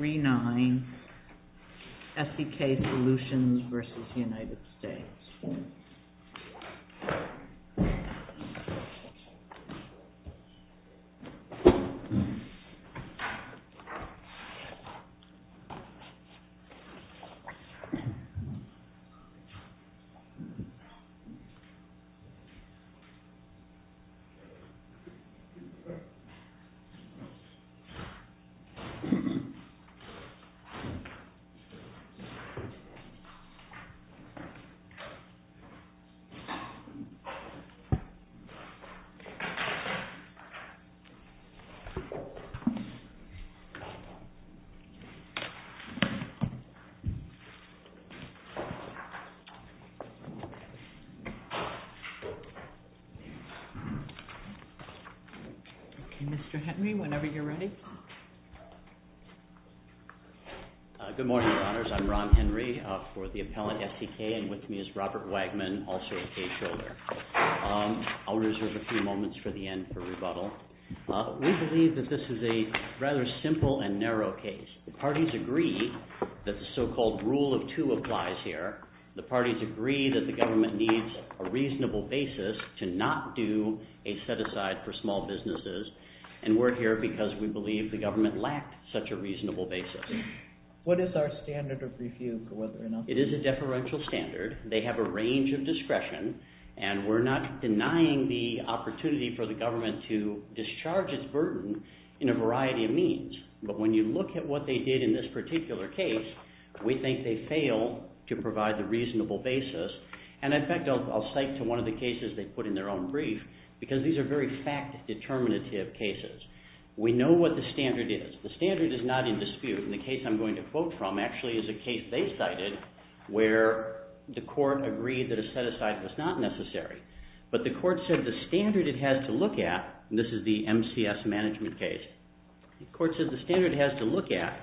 3-9 SDK Solutions v. United States Okay, Mr. Henry, whenever you're ready. Good morning, Your Honors, I'm Ron Henry for the Appellant SDK, and with me is Robert Wagman, also a caseholder. I'll reserve a few moments for the end for rebuttal. We believe that this is a rather simple and narrow case. The parties agree that the so-called rule of two applies here. The parties agree that the government needs a reasonable basis to not do a set-aside for such a reasonable basis. What is our standard of refuge? It is a deferential standard. They have a range of discretion, and we're not denying the opportunity for the government to discharge its burden in a variety of means. But when you look at what they did in this particular case, we think they failed to provide the reasonable basis. And in fact, I'll cite to one of the cases they put in their own brief, because these are very fact-determinative cases. We know what the standard is. The standard is not in dispute. And the case I'm going to quote from actually is a case they cited where the court agreed that a set-aside was not necessary. But the court said the standard it has to look at, and this is the MCS management case, the court said the standard it has to look at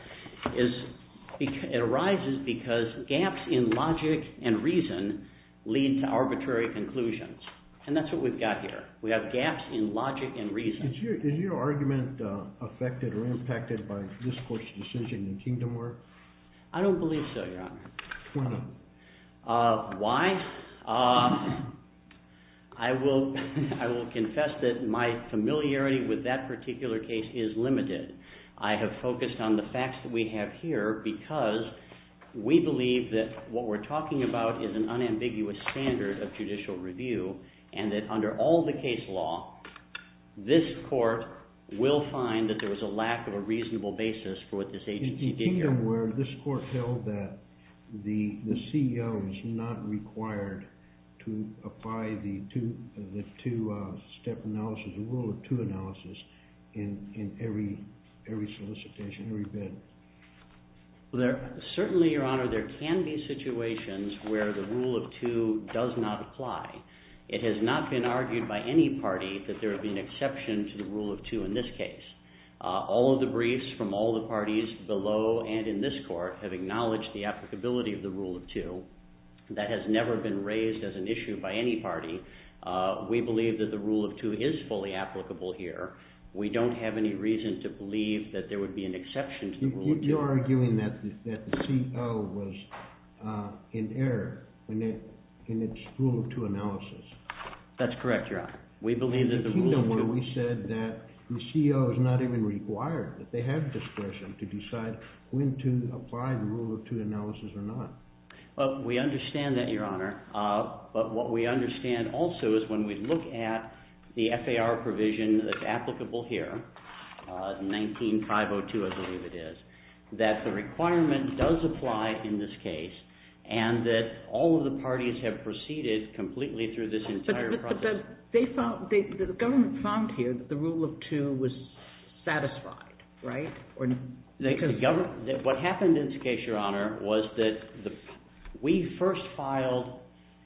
arises because gaps in logic and reason lead to arbitrary conclusions. And that's what we've got here. We have gaps in logic and reason. Is your argument affected or impacted by this court's decision in Kingdom War? I don't believe so, Your Honor. Why? I will confess that my familiarity with that particular case is limited. I have focused on the facts that we have here because we believe that what we're talking about is an unambiguous standard of judicial review, and that under all the case law, this court will find that there was a lack of a reasonable basis for what this agency did here. In Kingdom War, this court held that the CEO is not required to apply the two-step analysis, the rule of two analysis, in every solicitation, every bid. Certainly, Your Honor, there can be situations where the rule of two does not apply. It has not been argued by any party that there would be an exception to the rule of two in this case. All of the briefs from all the parties below and in this court have acknowledged the applicability of the rule of two. That has never been raised as an issue by any party. We believe that the rule of two is fully applicable here. We don't have any reason to believe that there would be an exception to the rule of two. You're arguing that the CEO was in error in its rule of two analysis. That's correct, Your Honor. We believe that the rule of two... In Kingdom War, we said that the CEO is not even required, that they have discretion to decide when to apply the rule of two analysis or not. We understand that, Your Honor, but what we understand also is when we look at the FAR provision that's applicable here, 19.502, I believe it is, that the requirement does apply in this case and that all of the parties have proceeded completely through this entire process. But the government found here that the rule of two was satisfied, right? What happened in this case, Your Honor, was that we first filed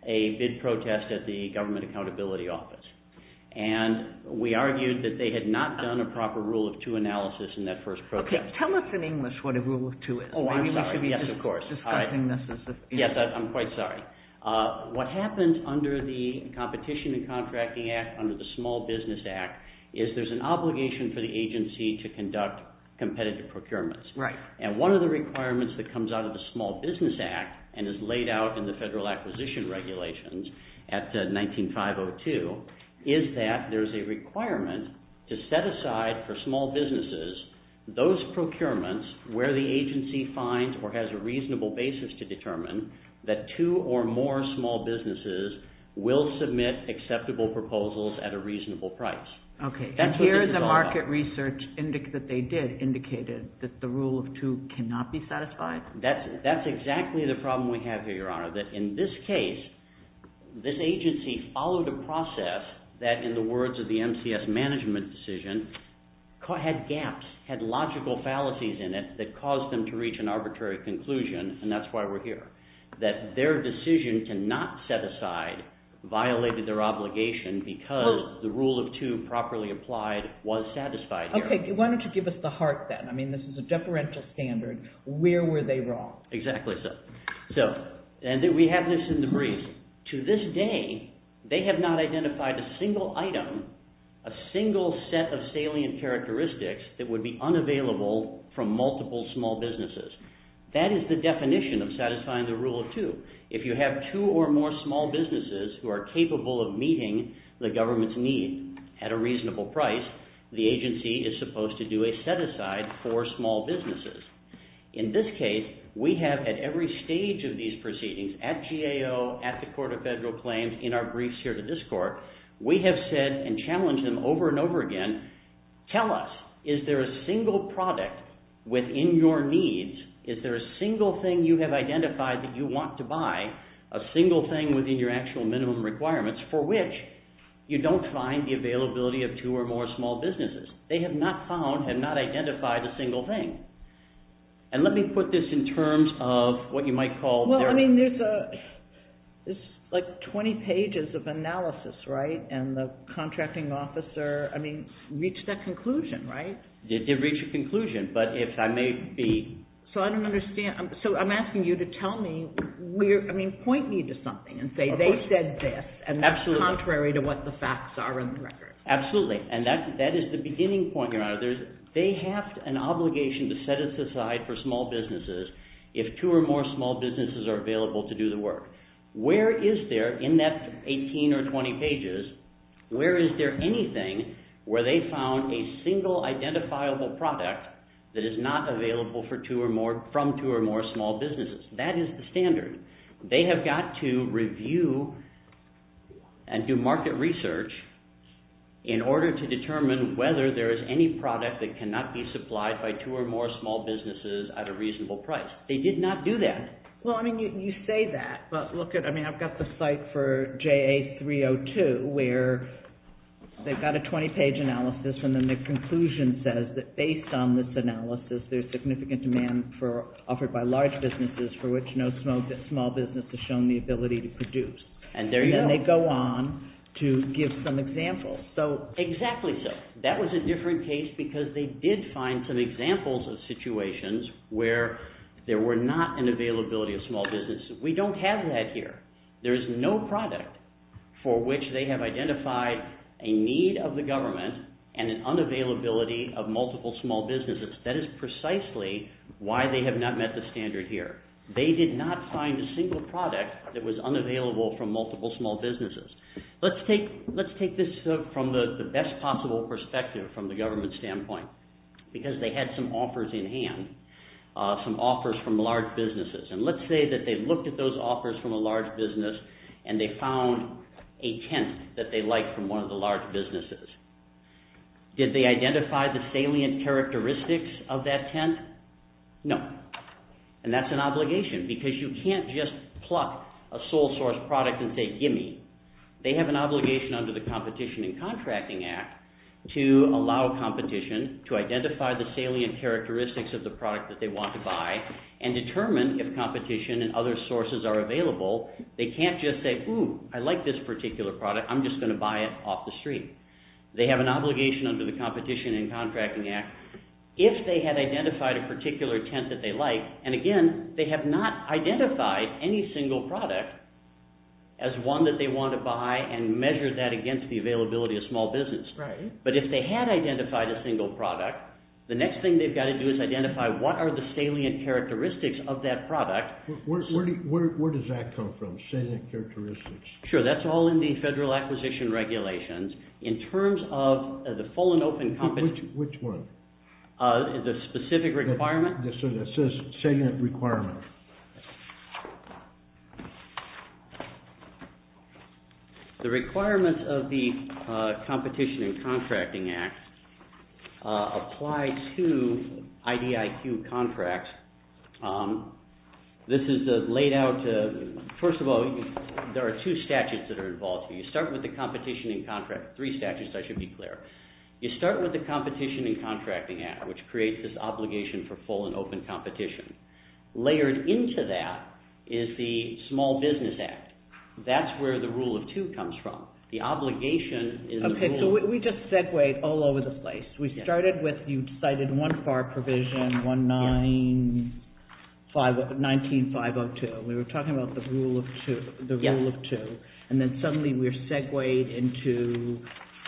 a bid protest at the Government Accountability Office, and we argued that they had not done a proper rule of two analysis in that first protest. Okay. Tell us in English what a rule of two is. Oh, I'm sorry. Yes, of course. Maybe we should be just discussing this as a... Yes, I'm quite sorry. What happens under the Competition and Contracting Act, under the Small Business Act, is there's an obligation for the agency to conduct competitive procurements, and one of the requirements that comes out of the Small Business Act and is laid out in the Federal Acquisition Regulations at 19.502, is that there's a requirement to set aside for small businesses those procurements where the agency finds or has a reasonable basis to determine that two or more small businesses will submit acceptable proposals at a reasonable price. Okay. And here the market research that they did indicated that the rule of two cannot be satisfied? That's exactly the problem we have here, Your Honor, that in this case, this agency followed a process that, in the words of the MCS management decision, had gaps, had logical fallacies in it that caused them to reach an arbitrary conclusion, and that's why we're here. That their decision to not set aside violated their obligation because the rule of two properly applied was satisfied here. Okay. Why don't you give us the heart then? I mean, this is a deferential standard. Where were they wrong? Exactly so. So, and we have this in the brief. To this day, they have not identified a single item, a single set of salient characteristics that would be unavailable from multiple small businesses. That is the definition of satisfying the rule of two. If you have two or more small businesses who are capable of meeting the government's need at a reasonable price, the agency is supposed to do a set-aside for small businesses. In this case, we have, at every stage of these proceedings, at GAO, at the Court of Federal Claims, in our briefs here to this Court, we have said and challenged them over and over again, tell us, is there a single product within your needs, is there a single thing you have identified that you want to buy, a single thing within your actual minimum requirements for which you don't find the availability of two or more small businesses. They have not found and not identified a single thing. And let me put this in terms of what you might call their... Well, I mean, there's like 20 pages of analysis, right? And the contracting officer, I mean, reached that conclusion, right? They did reach a conclusion, but if I may be... So I don't understand. So I'm asking you to tell me where, I mean, point me to something and say they said this and that's contrary to what the facts are in the record. Absolutely. And that is the beginning point, Your Honor. They have an obligation to set us aside for small businesses if two or more small businesses are available to do the work. Where is there, in that 18 or 20 pages, where is there anything where they found a single identifiable product that is not available for two or more, from two or more small businesses? That is the standard. They have got to review and do market research in order to determine whether there is any product that cannot be supplied by two or more small businesses at a reasonable price. They did not do that. Well, I mean, you say that, but look at, I mean, I've got the site for JA302 where they've got a 20-page analysis and then the conclusion says that based on this analysis, there's significant demand for, offered by large businesses for which no small business has shown the ability to produce. And there you go. And then they go on to give some examples. So... Exactly so. That was a different case because they did find some examples of situations where there were not an availability of small businesses. We don't have that here. There is no product for which they have identified a need of the government and an unavailability of multiple small businesses. That is precisely why they have not met the standard here. They did not find a single product that was unavailable from multiple small businesses. Let's take this from the best possible perspective from the government standpoint because they had some offers in hand, some offers from large businesses. And let's say that they looked at those offers from a large business and they found a tent that they liked from one of the large businesses. Did they identify the salient characteristics of that tent? No. And that's an obligation because you can't just pluck a sole source product and say, gimme. They have an obligation under the Competition and Contracting Act to allow competition to identify the salient characteristics of the product that they want to buy and determine if competition and other sources are available. They can't just say, ooh, I like this particular product. I'm just going to buy it off the street. They have an obligation under the Competition and Contracting Act. If they had identified a particular tent that they like, and again, they have not identified any single product as one that they want to buy and measure that against the availability of small business. Right. But if they had identified a single product, the next thing they've got to do is identify what are the salient characteristics of that product. Where does that come from, salient characteristics? Sure. That's all in the Federal Acquisition Regulations. In terms of the full and open competition... Which one? The specific requirement? Yes, sir. That says salient requirement. The requirements of the Competition and Contracting Act apply to IDIQ contracts. This is laid out to, first of all, there are two statutes that are involved here. You start with the Competition and Contracting, three statutes, I should be clear. You start with the Competition and Contracting Act, which creates this obligation for full and open competition. Layered into that is the Small Business Act. That's where the Rule of Two comes from. The obligation is... Okay. So, we just segued all over the place. We started with, you cited one FAR provision, 19-502. We were talking about the Rule of Two, and then suddenly we're segued into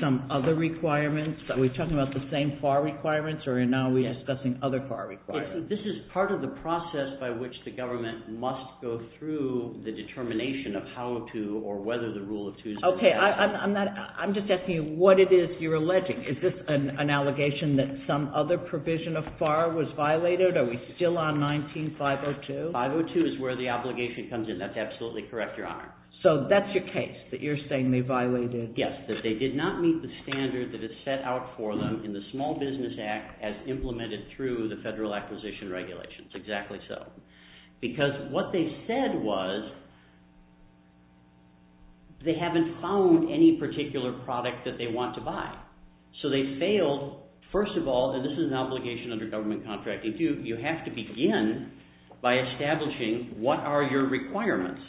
some other requirements. Are we talking about the same FAR requirements, or now we're discussing other FAR requirements? This is part of the process by which the government must go through the determination of how to, or whether the Rule of Two is valid. Okay. I'm just asking you what it is you're alleging. Is this an allegation that some other provision of FAR was violated? Are we still on 19-502? 502 is where the obligation comes in. That's absolutely correct, Your Honor. So that's your case, that you're saying they violated... Yes, that they did not meet the standard that is set out for them in the Small Business Act as implemented through the Federal Acquisition Regulations, exactly so. Because what they said was they haven't found any particular product that they want to buy. So they failed, first of all, and this is an obligation under government contracting too, you have to begin by establishing what are your requirements.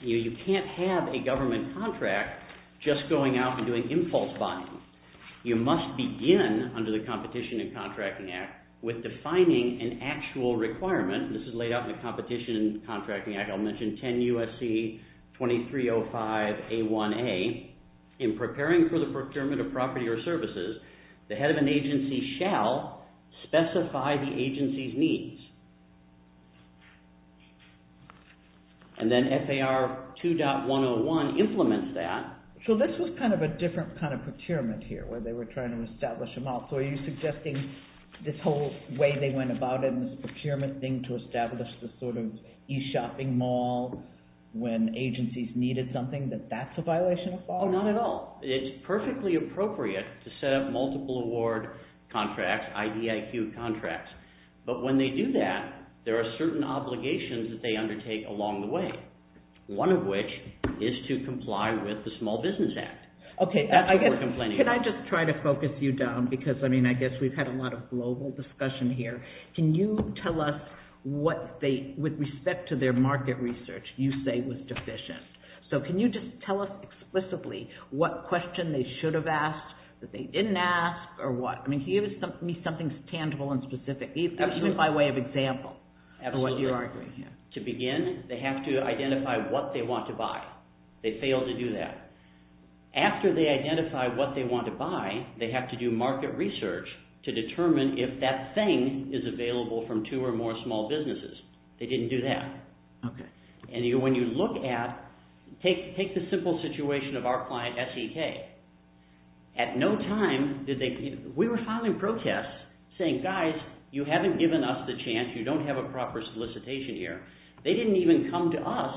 You can't have a government contract just going out and doing impulse buying. You must begin, under the Competition and Contracting Act, with defining an actual requirement. This is laid out in the Competition and Contracting Act. I'll mention 10 U.S.C. 2305A1A, in preparing for the procurement of property or services, the head of an agency shall specify the agency's needs. And then FAR 2.101 implements that. So this was kind of a different kind of procurement here, where they were trying to establish a mall. So are you suggesting this whole way they went about it, this procurement thing to establish this sort of e-shopping mall when agencies needed something, that that's a violation of FAR? Not at all. It's perfectly appropriate to set up multiple award contracts, IDIQ contracts. But when they do that, there are certain obligations that they undertake along the way. One of which is to comply with the Small Business Act. Okay, I guess, can I just try to focus you down, because, I mean, I guess we've had a lot of global discussion here. Can you tell us what they, with respect to their market research, you say was deficient. So can you just tell us explicitly what question they should have asked, that they didn't ask, or what? I mean, can you give me something tangible and specific, even by way of example, of what you're arguing here? To begin, they have to identify what they want to buy. They failed to do that. After they identify what they want to buy, they have to do market research to determine if that thing is available from two or more small businesses. They didn't do that. Okay. And when you look at, take the simple situation of our client, S.E.K. At no time did they, we were filing protests saying, guys, you haven't given us the chance, you don't have a proper solicitation here. They didn't even come to us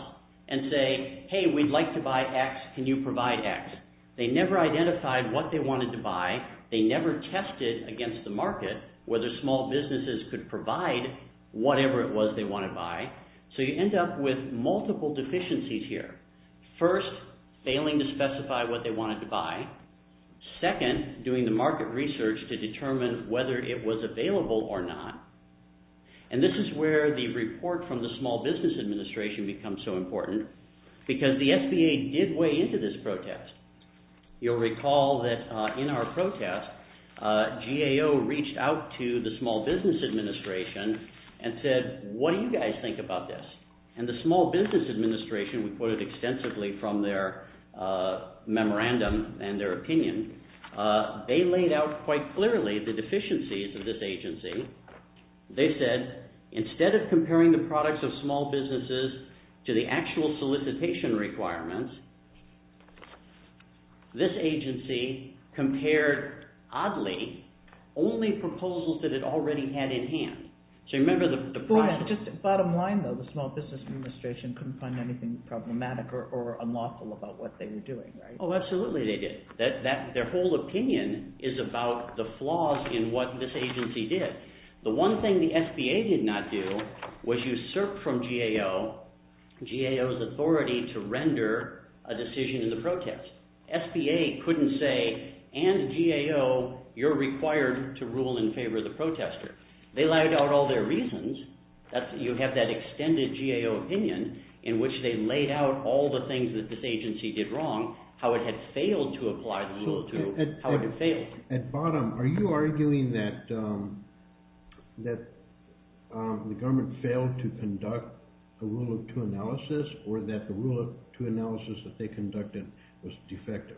and say, hey, we'd like to buy X, can you provide X? They never identified what they wanted to buy. They never tested against the market whether small businesses could provide whatever it was they wanted to buy. So you end up with multiple deficiencies here. First, failing to specify what they wanted to buy. Second, doing the market research to determine whether it was available or not. And this is where the report from the Small Business Administration becomes so important because the SBA did weigh into this protest. You'll recall that in our protest, GAO reached out to the Small Business Administration and said, what do you guys think about this? And the Small Business Administration, we quoted extensively from their memorandum and their opinion. They laid out quite clearly the deficiencies of this agency. They said, instead of comparing the products of small businesses to the actual solicitation requirements, this agency compared, oddly, only proposals that it already had in hand. So you remember the prior... Just bottom line though, the Small Business Administration couldn't find anything problematic or unlawful about what they were doing, right? Oh, absolutely they did. Their whole opinion is about the flaws in what this agency did. The one thing the SBA did not do was usurp from GAO, GAO's authority to render a decision in the protest. SBA couldn't say, and GAO, you're required to rule in favor of the protester. They laid out all their reasons. You have that extended GAO opinion in which they laid out all the things that this agency did wrong, how it had failed to apply the Rule of Two, how it had failed. At bottom, are you arguing that the government failed to conduct a Rule of Two analysis or that the Rule of Two analysis that they conducted was defective?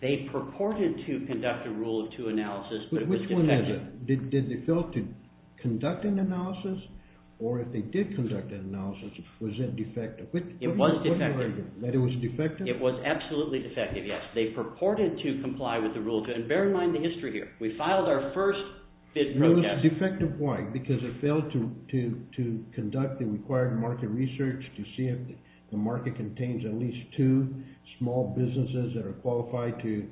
They purported to conduct a Rule of Two analysis, but it was defective. Did they fail to conduct an analysis, or if they did conduct an analysis, was it defective? It was defective. That it was defective? It was absolutely defective, yes. They purported to comply with the Rule of Two, and bear in mind the history here. We filed our first bid protest. It was defective, why? Because it failed to conduct the required market research to see if the market contains at least two small businesses that are qualified to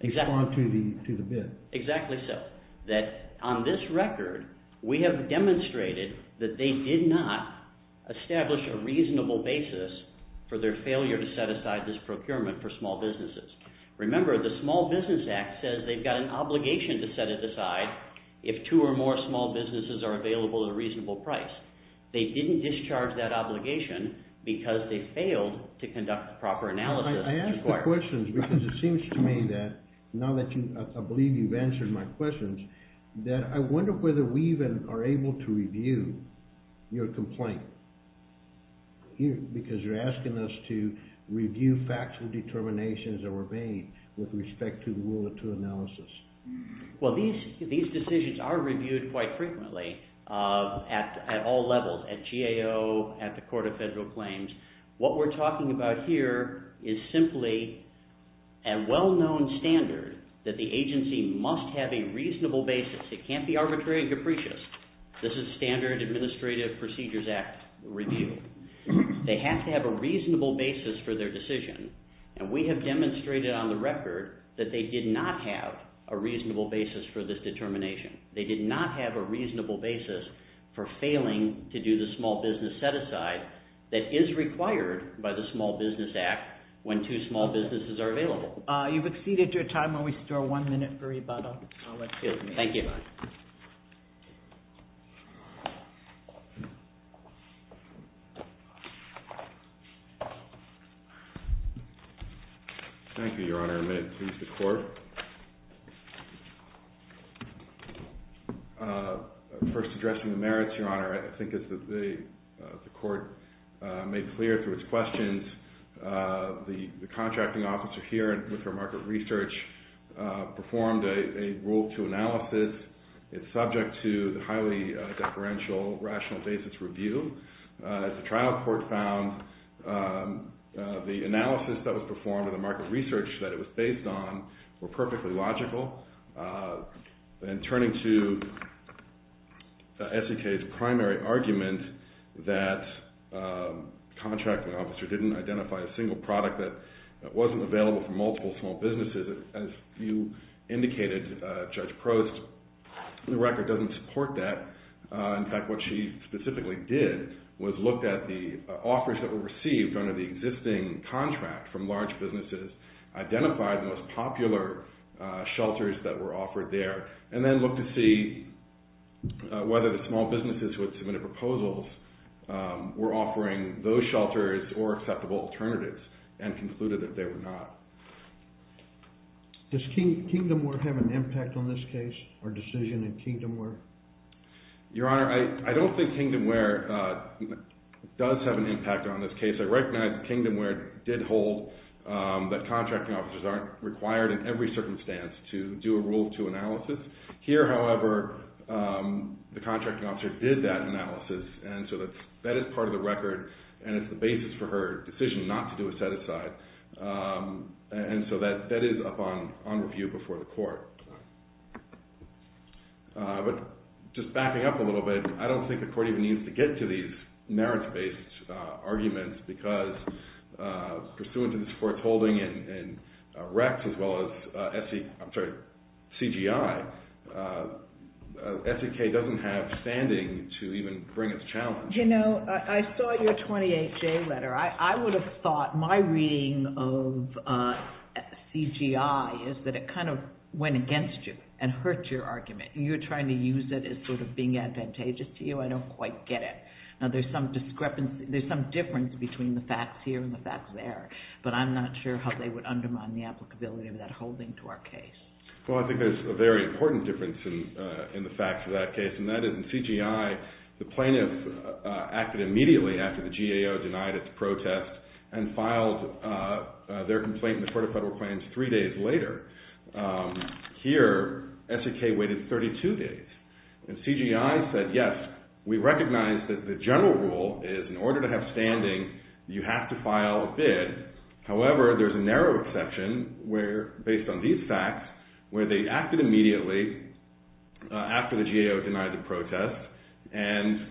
respond to the bid. Exactly so. On this record, we have demonstrated that they did not establish a reasonable basis for their failure to set aside this procurement for small businesses. Remember, the Small Business Act says they've got an obligation to set it aside if two or more small businesses are available at a reasonable price. They didn't discharge that obligation because they failed to conduct a proper analysis. I ask the questions because it seems to me that, now that I believe you've answered my questions, that I wonder whether we even are able to review your complaint, because you're asking us to review factual determinations that were made with respect to the Rule of Two analysis. Well, these decisions are reviewed quite frequently at all levels, at GAO, at the Court of Federal Claims. What we're talking about here is simply a well-known standard that the agency must have a reasonable basis. It can't be arbitrary and capricious. This is Standard Administrative Procedures Act review. They have to have a reasonable basis for their decision, and we have demonstrated on the record that they did not have a reasonable basis for this determination. They did not have a reasonable basis for failing to do the small business set-aside that is required by the Small Business Act when two small businesses are available. You've exceeded your time. We'll just have one minute for rebuttal. Thank you. Thank you, Your Honor. A minute to use the Court. First, addressing the merits, Your Honor. I think as the Court made clear through its questions, the Contracting Officer here with her market research performed a Rule 2 analysis. It's subject to the highly deferential rational basis review. As the trial court found, the analysis that was performed and the market research that that Contracting Officer didn't identify a single product that wasn't available for multiple small businesses. As you indicated, Judge Prost, the record doesn't support that. In fact, what she specifically did was look at the offers that were received under the existing contract from large businesses, identified the most popular shelters that were offering those shelters or acceptable alternatives, and concluded that they were not. Does Kingdomware have an impact on this case or decision in Kingdomware? Your Honor, I don't think Kingdomware does have an impact on this case. I recognize Kingdomware did hold that Contracting Officers aren't required in every circumstance to do a Rule 2 analysis. Here, however, the Contracting Officer did that analysis, and so that is part of the record, and it's the basis for her decision not to do a set-aside, and so that is up on review before the Court. But just backing up a little bit, I don't think the Court even needs to get to these merits-based arguments, because pursuant to this Court's holding in RECS as well as CGI, SEK doesn't have standing to even bring its challenge. You know, I saw your 28J letter. I would have thought my reading of CGI is that it kind of went against you and hurt your argument. You're trying to use it as sort of being advantageous to you. I don't quite get it. Now, there's some difference between the facts here and the facts there, but I'm not sure how they would undermine the applicability of that holding to our case. Well, I think there's a very important difference in the facts of that case, and that is in CGI, the plaintiff acted immediately after the GAO denied its protest and filed their complaint in the Court of Federal Claims three days later. Here, SEK waited 32 days, and CGI said, yes, we recognize that the general rule is in order to have standing, you have to file a bid. However, there's a narrow exception where, based on these facts, where they acted immediately after the GAO denied the protest, and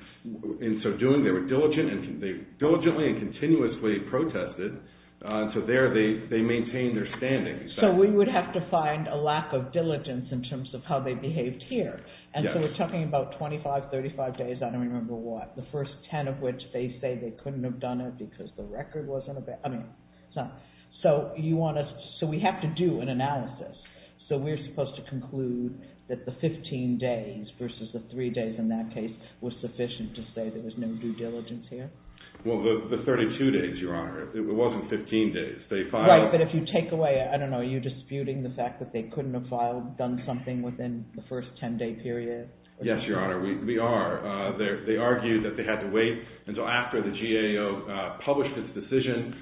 in so doing, they were diligent, and they diligently and continuously protested, so there they maintained their standing. So we would have to find a lack of diligence in terms of how they behaved here. And so we're talking about 25, 35 days, I don't remember what, the first 10 of which they say they couldn't have done it because the record wasn't, I mean, so you want to, so we have to do an analysis, so we're supposed to conclude that the 15 days versus the three days in that case was sufficient to say there was no due diligence here? Well, the 32 days, Your Honor, it wasn't 15 days. Right, but if you take away, I don't know, are you disputing the fact that they couldn't have filed, done something within the first 10-day period? Yes, Your Honor, we are. They argued that they had to wait until after the GAO published its decision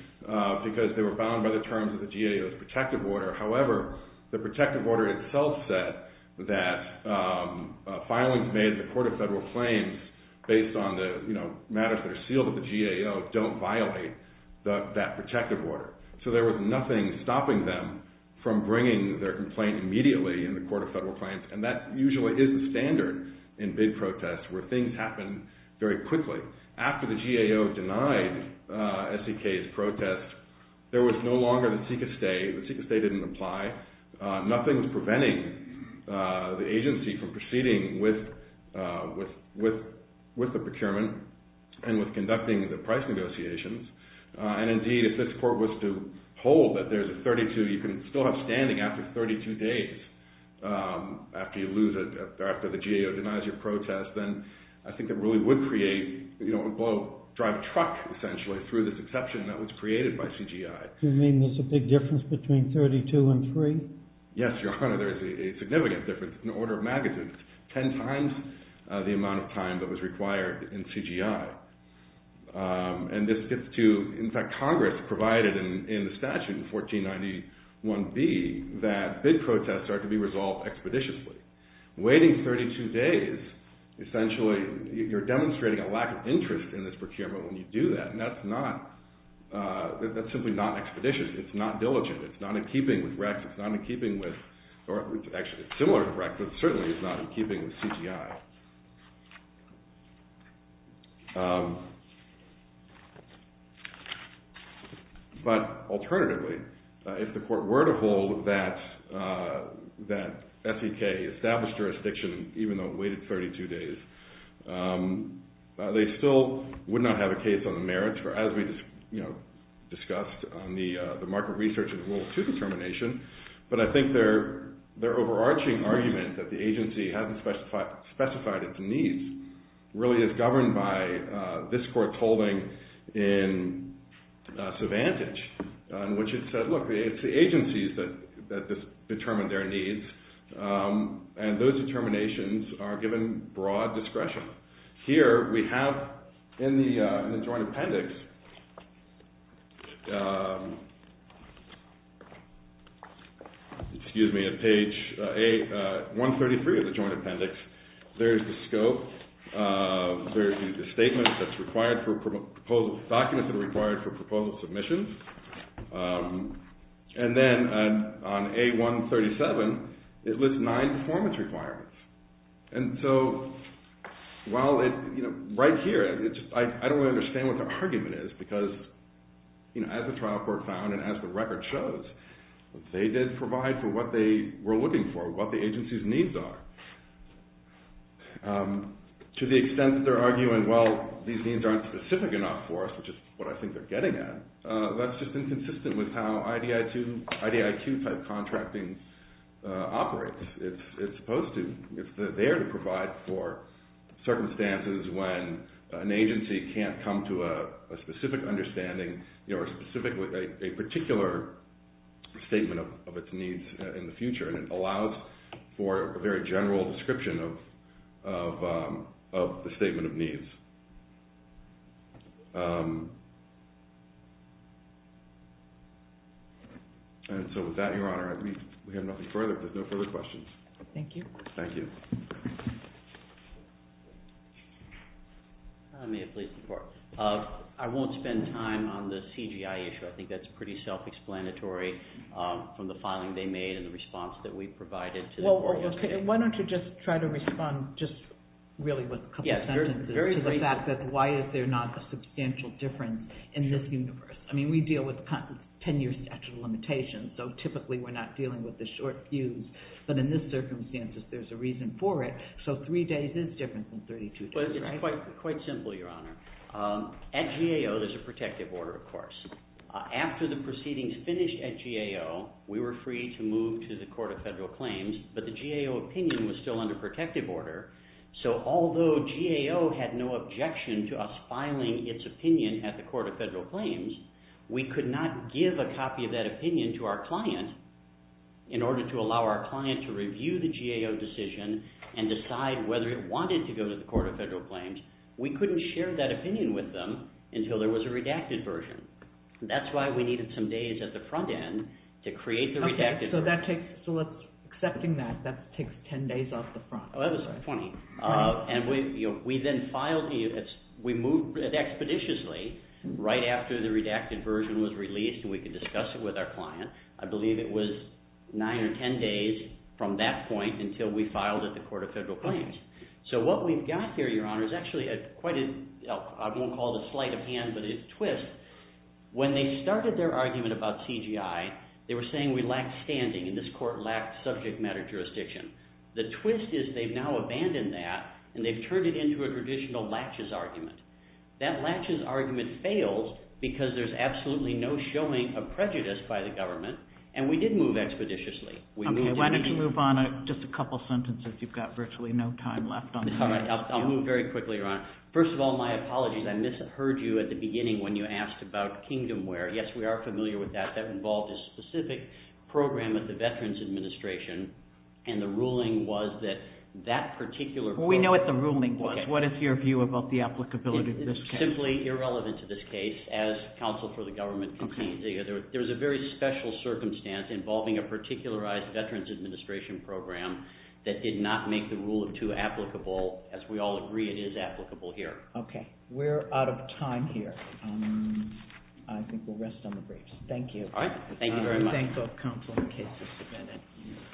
because they were bound by the terms of the GAO's protective order. However, the protective order itself said that filings made at the Court of Federal Claims based on the matters that are sealed at the GAO don't violate that protective order. So there was nothing stopping them from bringing their complaint immediately in the Court of Federal Claims. Things happened very quickly. After the GAO denied S.E.K.'s protest, there was no longer the seek-and-stay. The seek-and-stay didn't apply. Nothing was preventing the agency from proceeding with the procurement and with conducting the price negotiations. And indeed, if this Court was to hold that there's a 32, you can still have standing after 32 days after you lose it, after the GAO denies your protest, then I think it really would create, you know, it would blow, drive a truck, essentially, through this exception that was created by CGI. You mean there's a big difference between 32 and 3? Yes, Your Honor, there is a significant difference in the order of magazines. Ten times the amount of time that was required in CGI. And this gets to, in fact, Congress provided in the statute in 1491B that bid protests are to be resolved expeditiously. Waiting 32 days, essentially, you're demonstrating a lack of interest in this procurement when you do that. And that's not, that's simply not expeditious. It's not diligent. It's not in keeping with Rex. It's not in keeping with, or actually it's similar to Rex, but certainly it's not in keeping with CGI. But alternatively, if the court were to hold that SEK established jurisdiction, even though it waited 32 days, they still would not have a case on the merits, or as we, you know, discussed on the market research in World War II determination. But I think their overarching argument that the agency hasn't specified its needs really is governed by this court's holding in Cervantes, in which it says, look, it's the agencies that determine their needs. And those determinations are given broad discretion. Here we have in the joint appendix, excuse me, at page 133 of the joint appendix, there's a scope, there's a statement that's required for proposal documents that are required for proposal submissions. And then on A137, it lists nine performance requirements. And so while it, you know, right here, I don't really understand what their argument is because, you know, as the trial court found and as the record shows, they did provide for what they were looking for, what the agency's needs are. To the extent that they're arguing, well, these needs aren't specific enough for us, which is what I think they're getting at, that's just inconsistent with how IDIQ-type contracting operates. It's supposed to, if they're there to provide for circumstances when an agency can't come to a specific understanding, you know, a specific, a particular statement of its needs in the future, and it allows for a very general description of the statement of needs. And so with that, Your Honor, we have nothing further. There's no further questions. Thank you. Thank you. May I please report? I won't spend time on the CGI issue. I think that's pretty self-explanatory from the filing they made and the response that we provided to the court. Well, okay. Why don't you just try to respond just really with a couple sentences to the fact that why is there not a substantial difference in this universe? I mean, we deal with 10-year statute of limitations, so typically we're not dealing with the short But in this circumstances, there's a reason for it. So three days is different than 32 days, right? Well, it's quite simple, Your Honor. At GAO, there's a protective order, of course. After the proceedings finished at GAO, we were free to move to the Court of Federal Claims, but the GAO opinion was still under protective order. So although GAO had no objection to us filing its opinion at the Court of Federal Claims, we could not give a copy of that opinion to our client in order to allow our client to review the GAO decision and decide whether it wanted to go to the Court of Federal Claims. We couldn't share that opinion with them until there was a redacted version. That's why we needed some days at the front end to create the redacted version. Okay. So accepting that, that takes 10 days off the front, right? Oh, that was 20. 20? And we then filed it. We moved it expeditiously right after the redacted version was released and we could discuss it with our client. I believe it was 9 or 10 days from that point until we filed at the Court of Federal Claims. So what we've got here, Your Honor, is actually quite a – I won't call it a sleight of hand, but it's a twist. When they started their argument about CGI, they were saying we lacked standing and this court lacked subject matter jurisdiction. The twist is they've now abandoned that and they've turned it into a traditional latches argument. That latches argument failed because there's absolutely no showing of prejudice by the government and we did move expeditiously. Okay. Why don't you move on? Just a couple sentences. You've got virtually no time left on that. All right. I'll move very quickly, Your Honor. First of all, my apologies. I misheard you at the beginning when you asked about Kingdomware. Yes, we are familiar with that. That involved a specific program at the Veterans Administration and the ruling was that that particular – We know what the ruling was. What is your view about the applicability of this case? It is simply irrelevant to this case as counsel for the government can see. There's a very special circumstance involving a particularized Veterans Administration program that did not make the rule of two applicable as we all agree it is applicable here. Okay. We're out of time here. I think we'll rest on the briefs. Thank you. All right. Thank you very much. Thank you.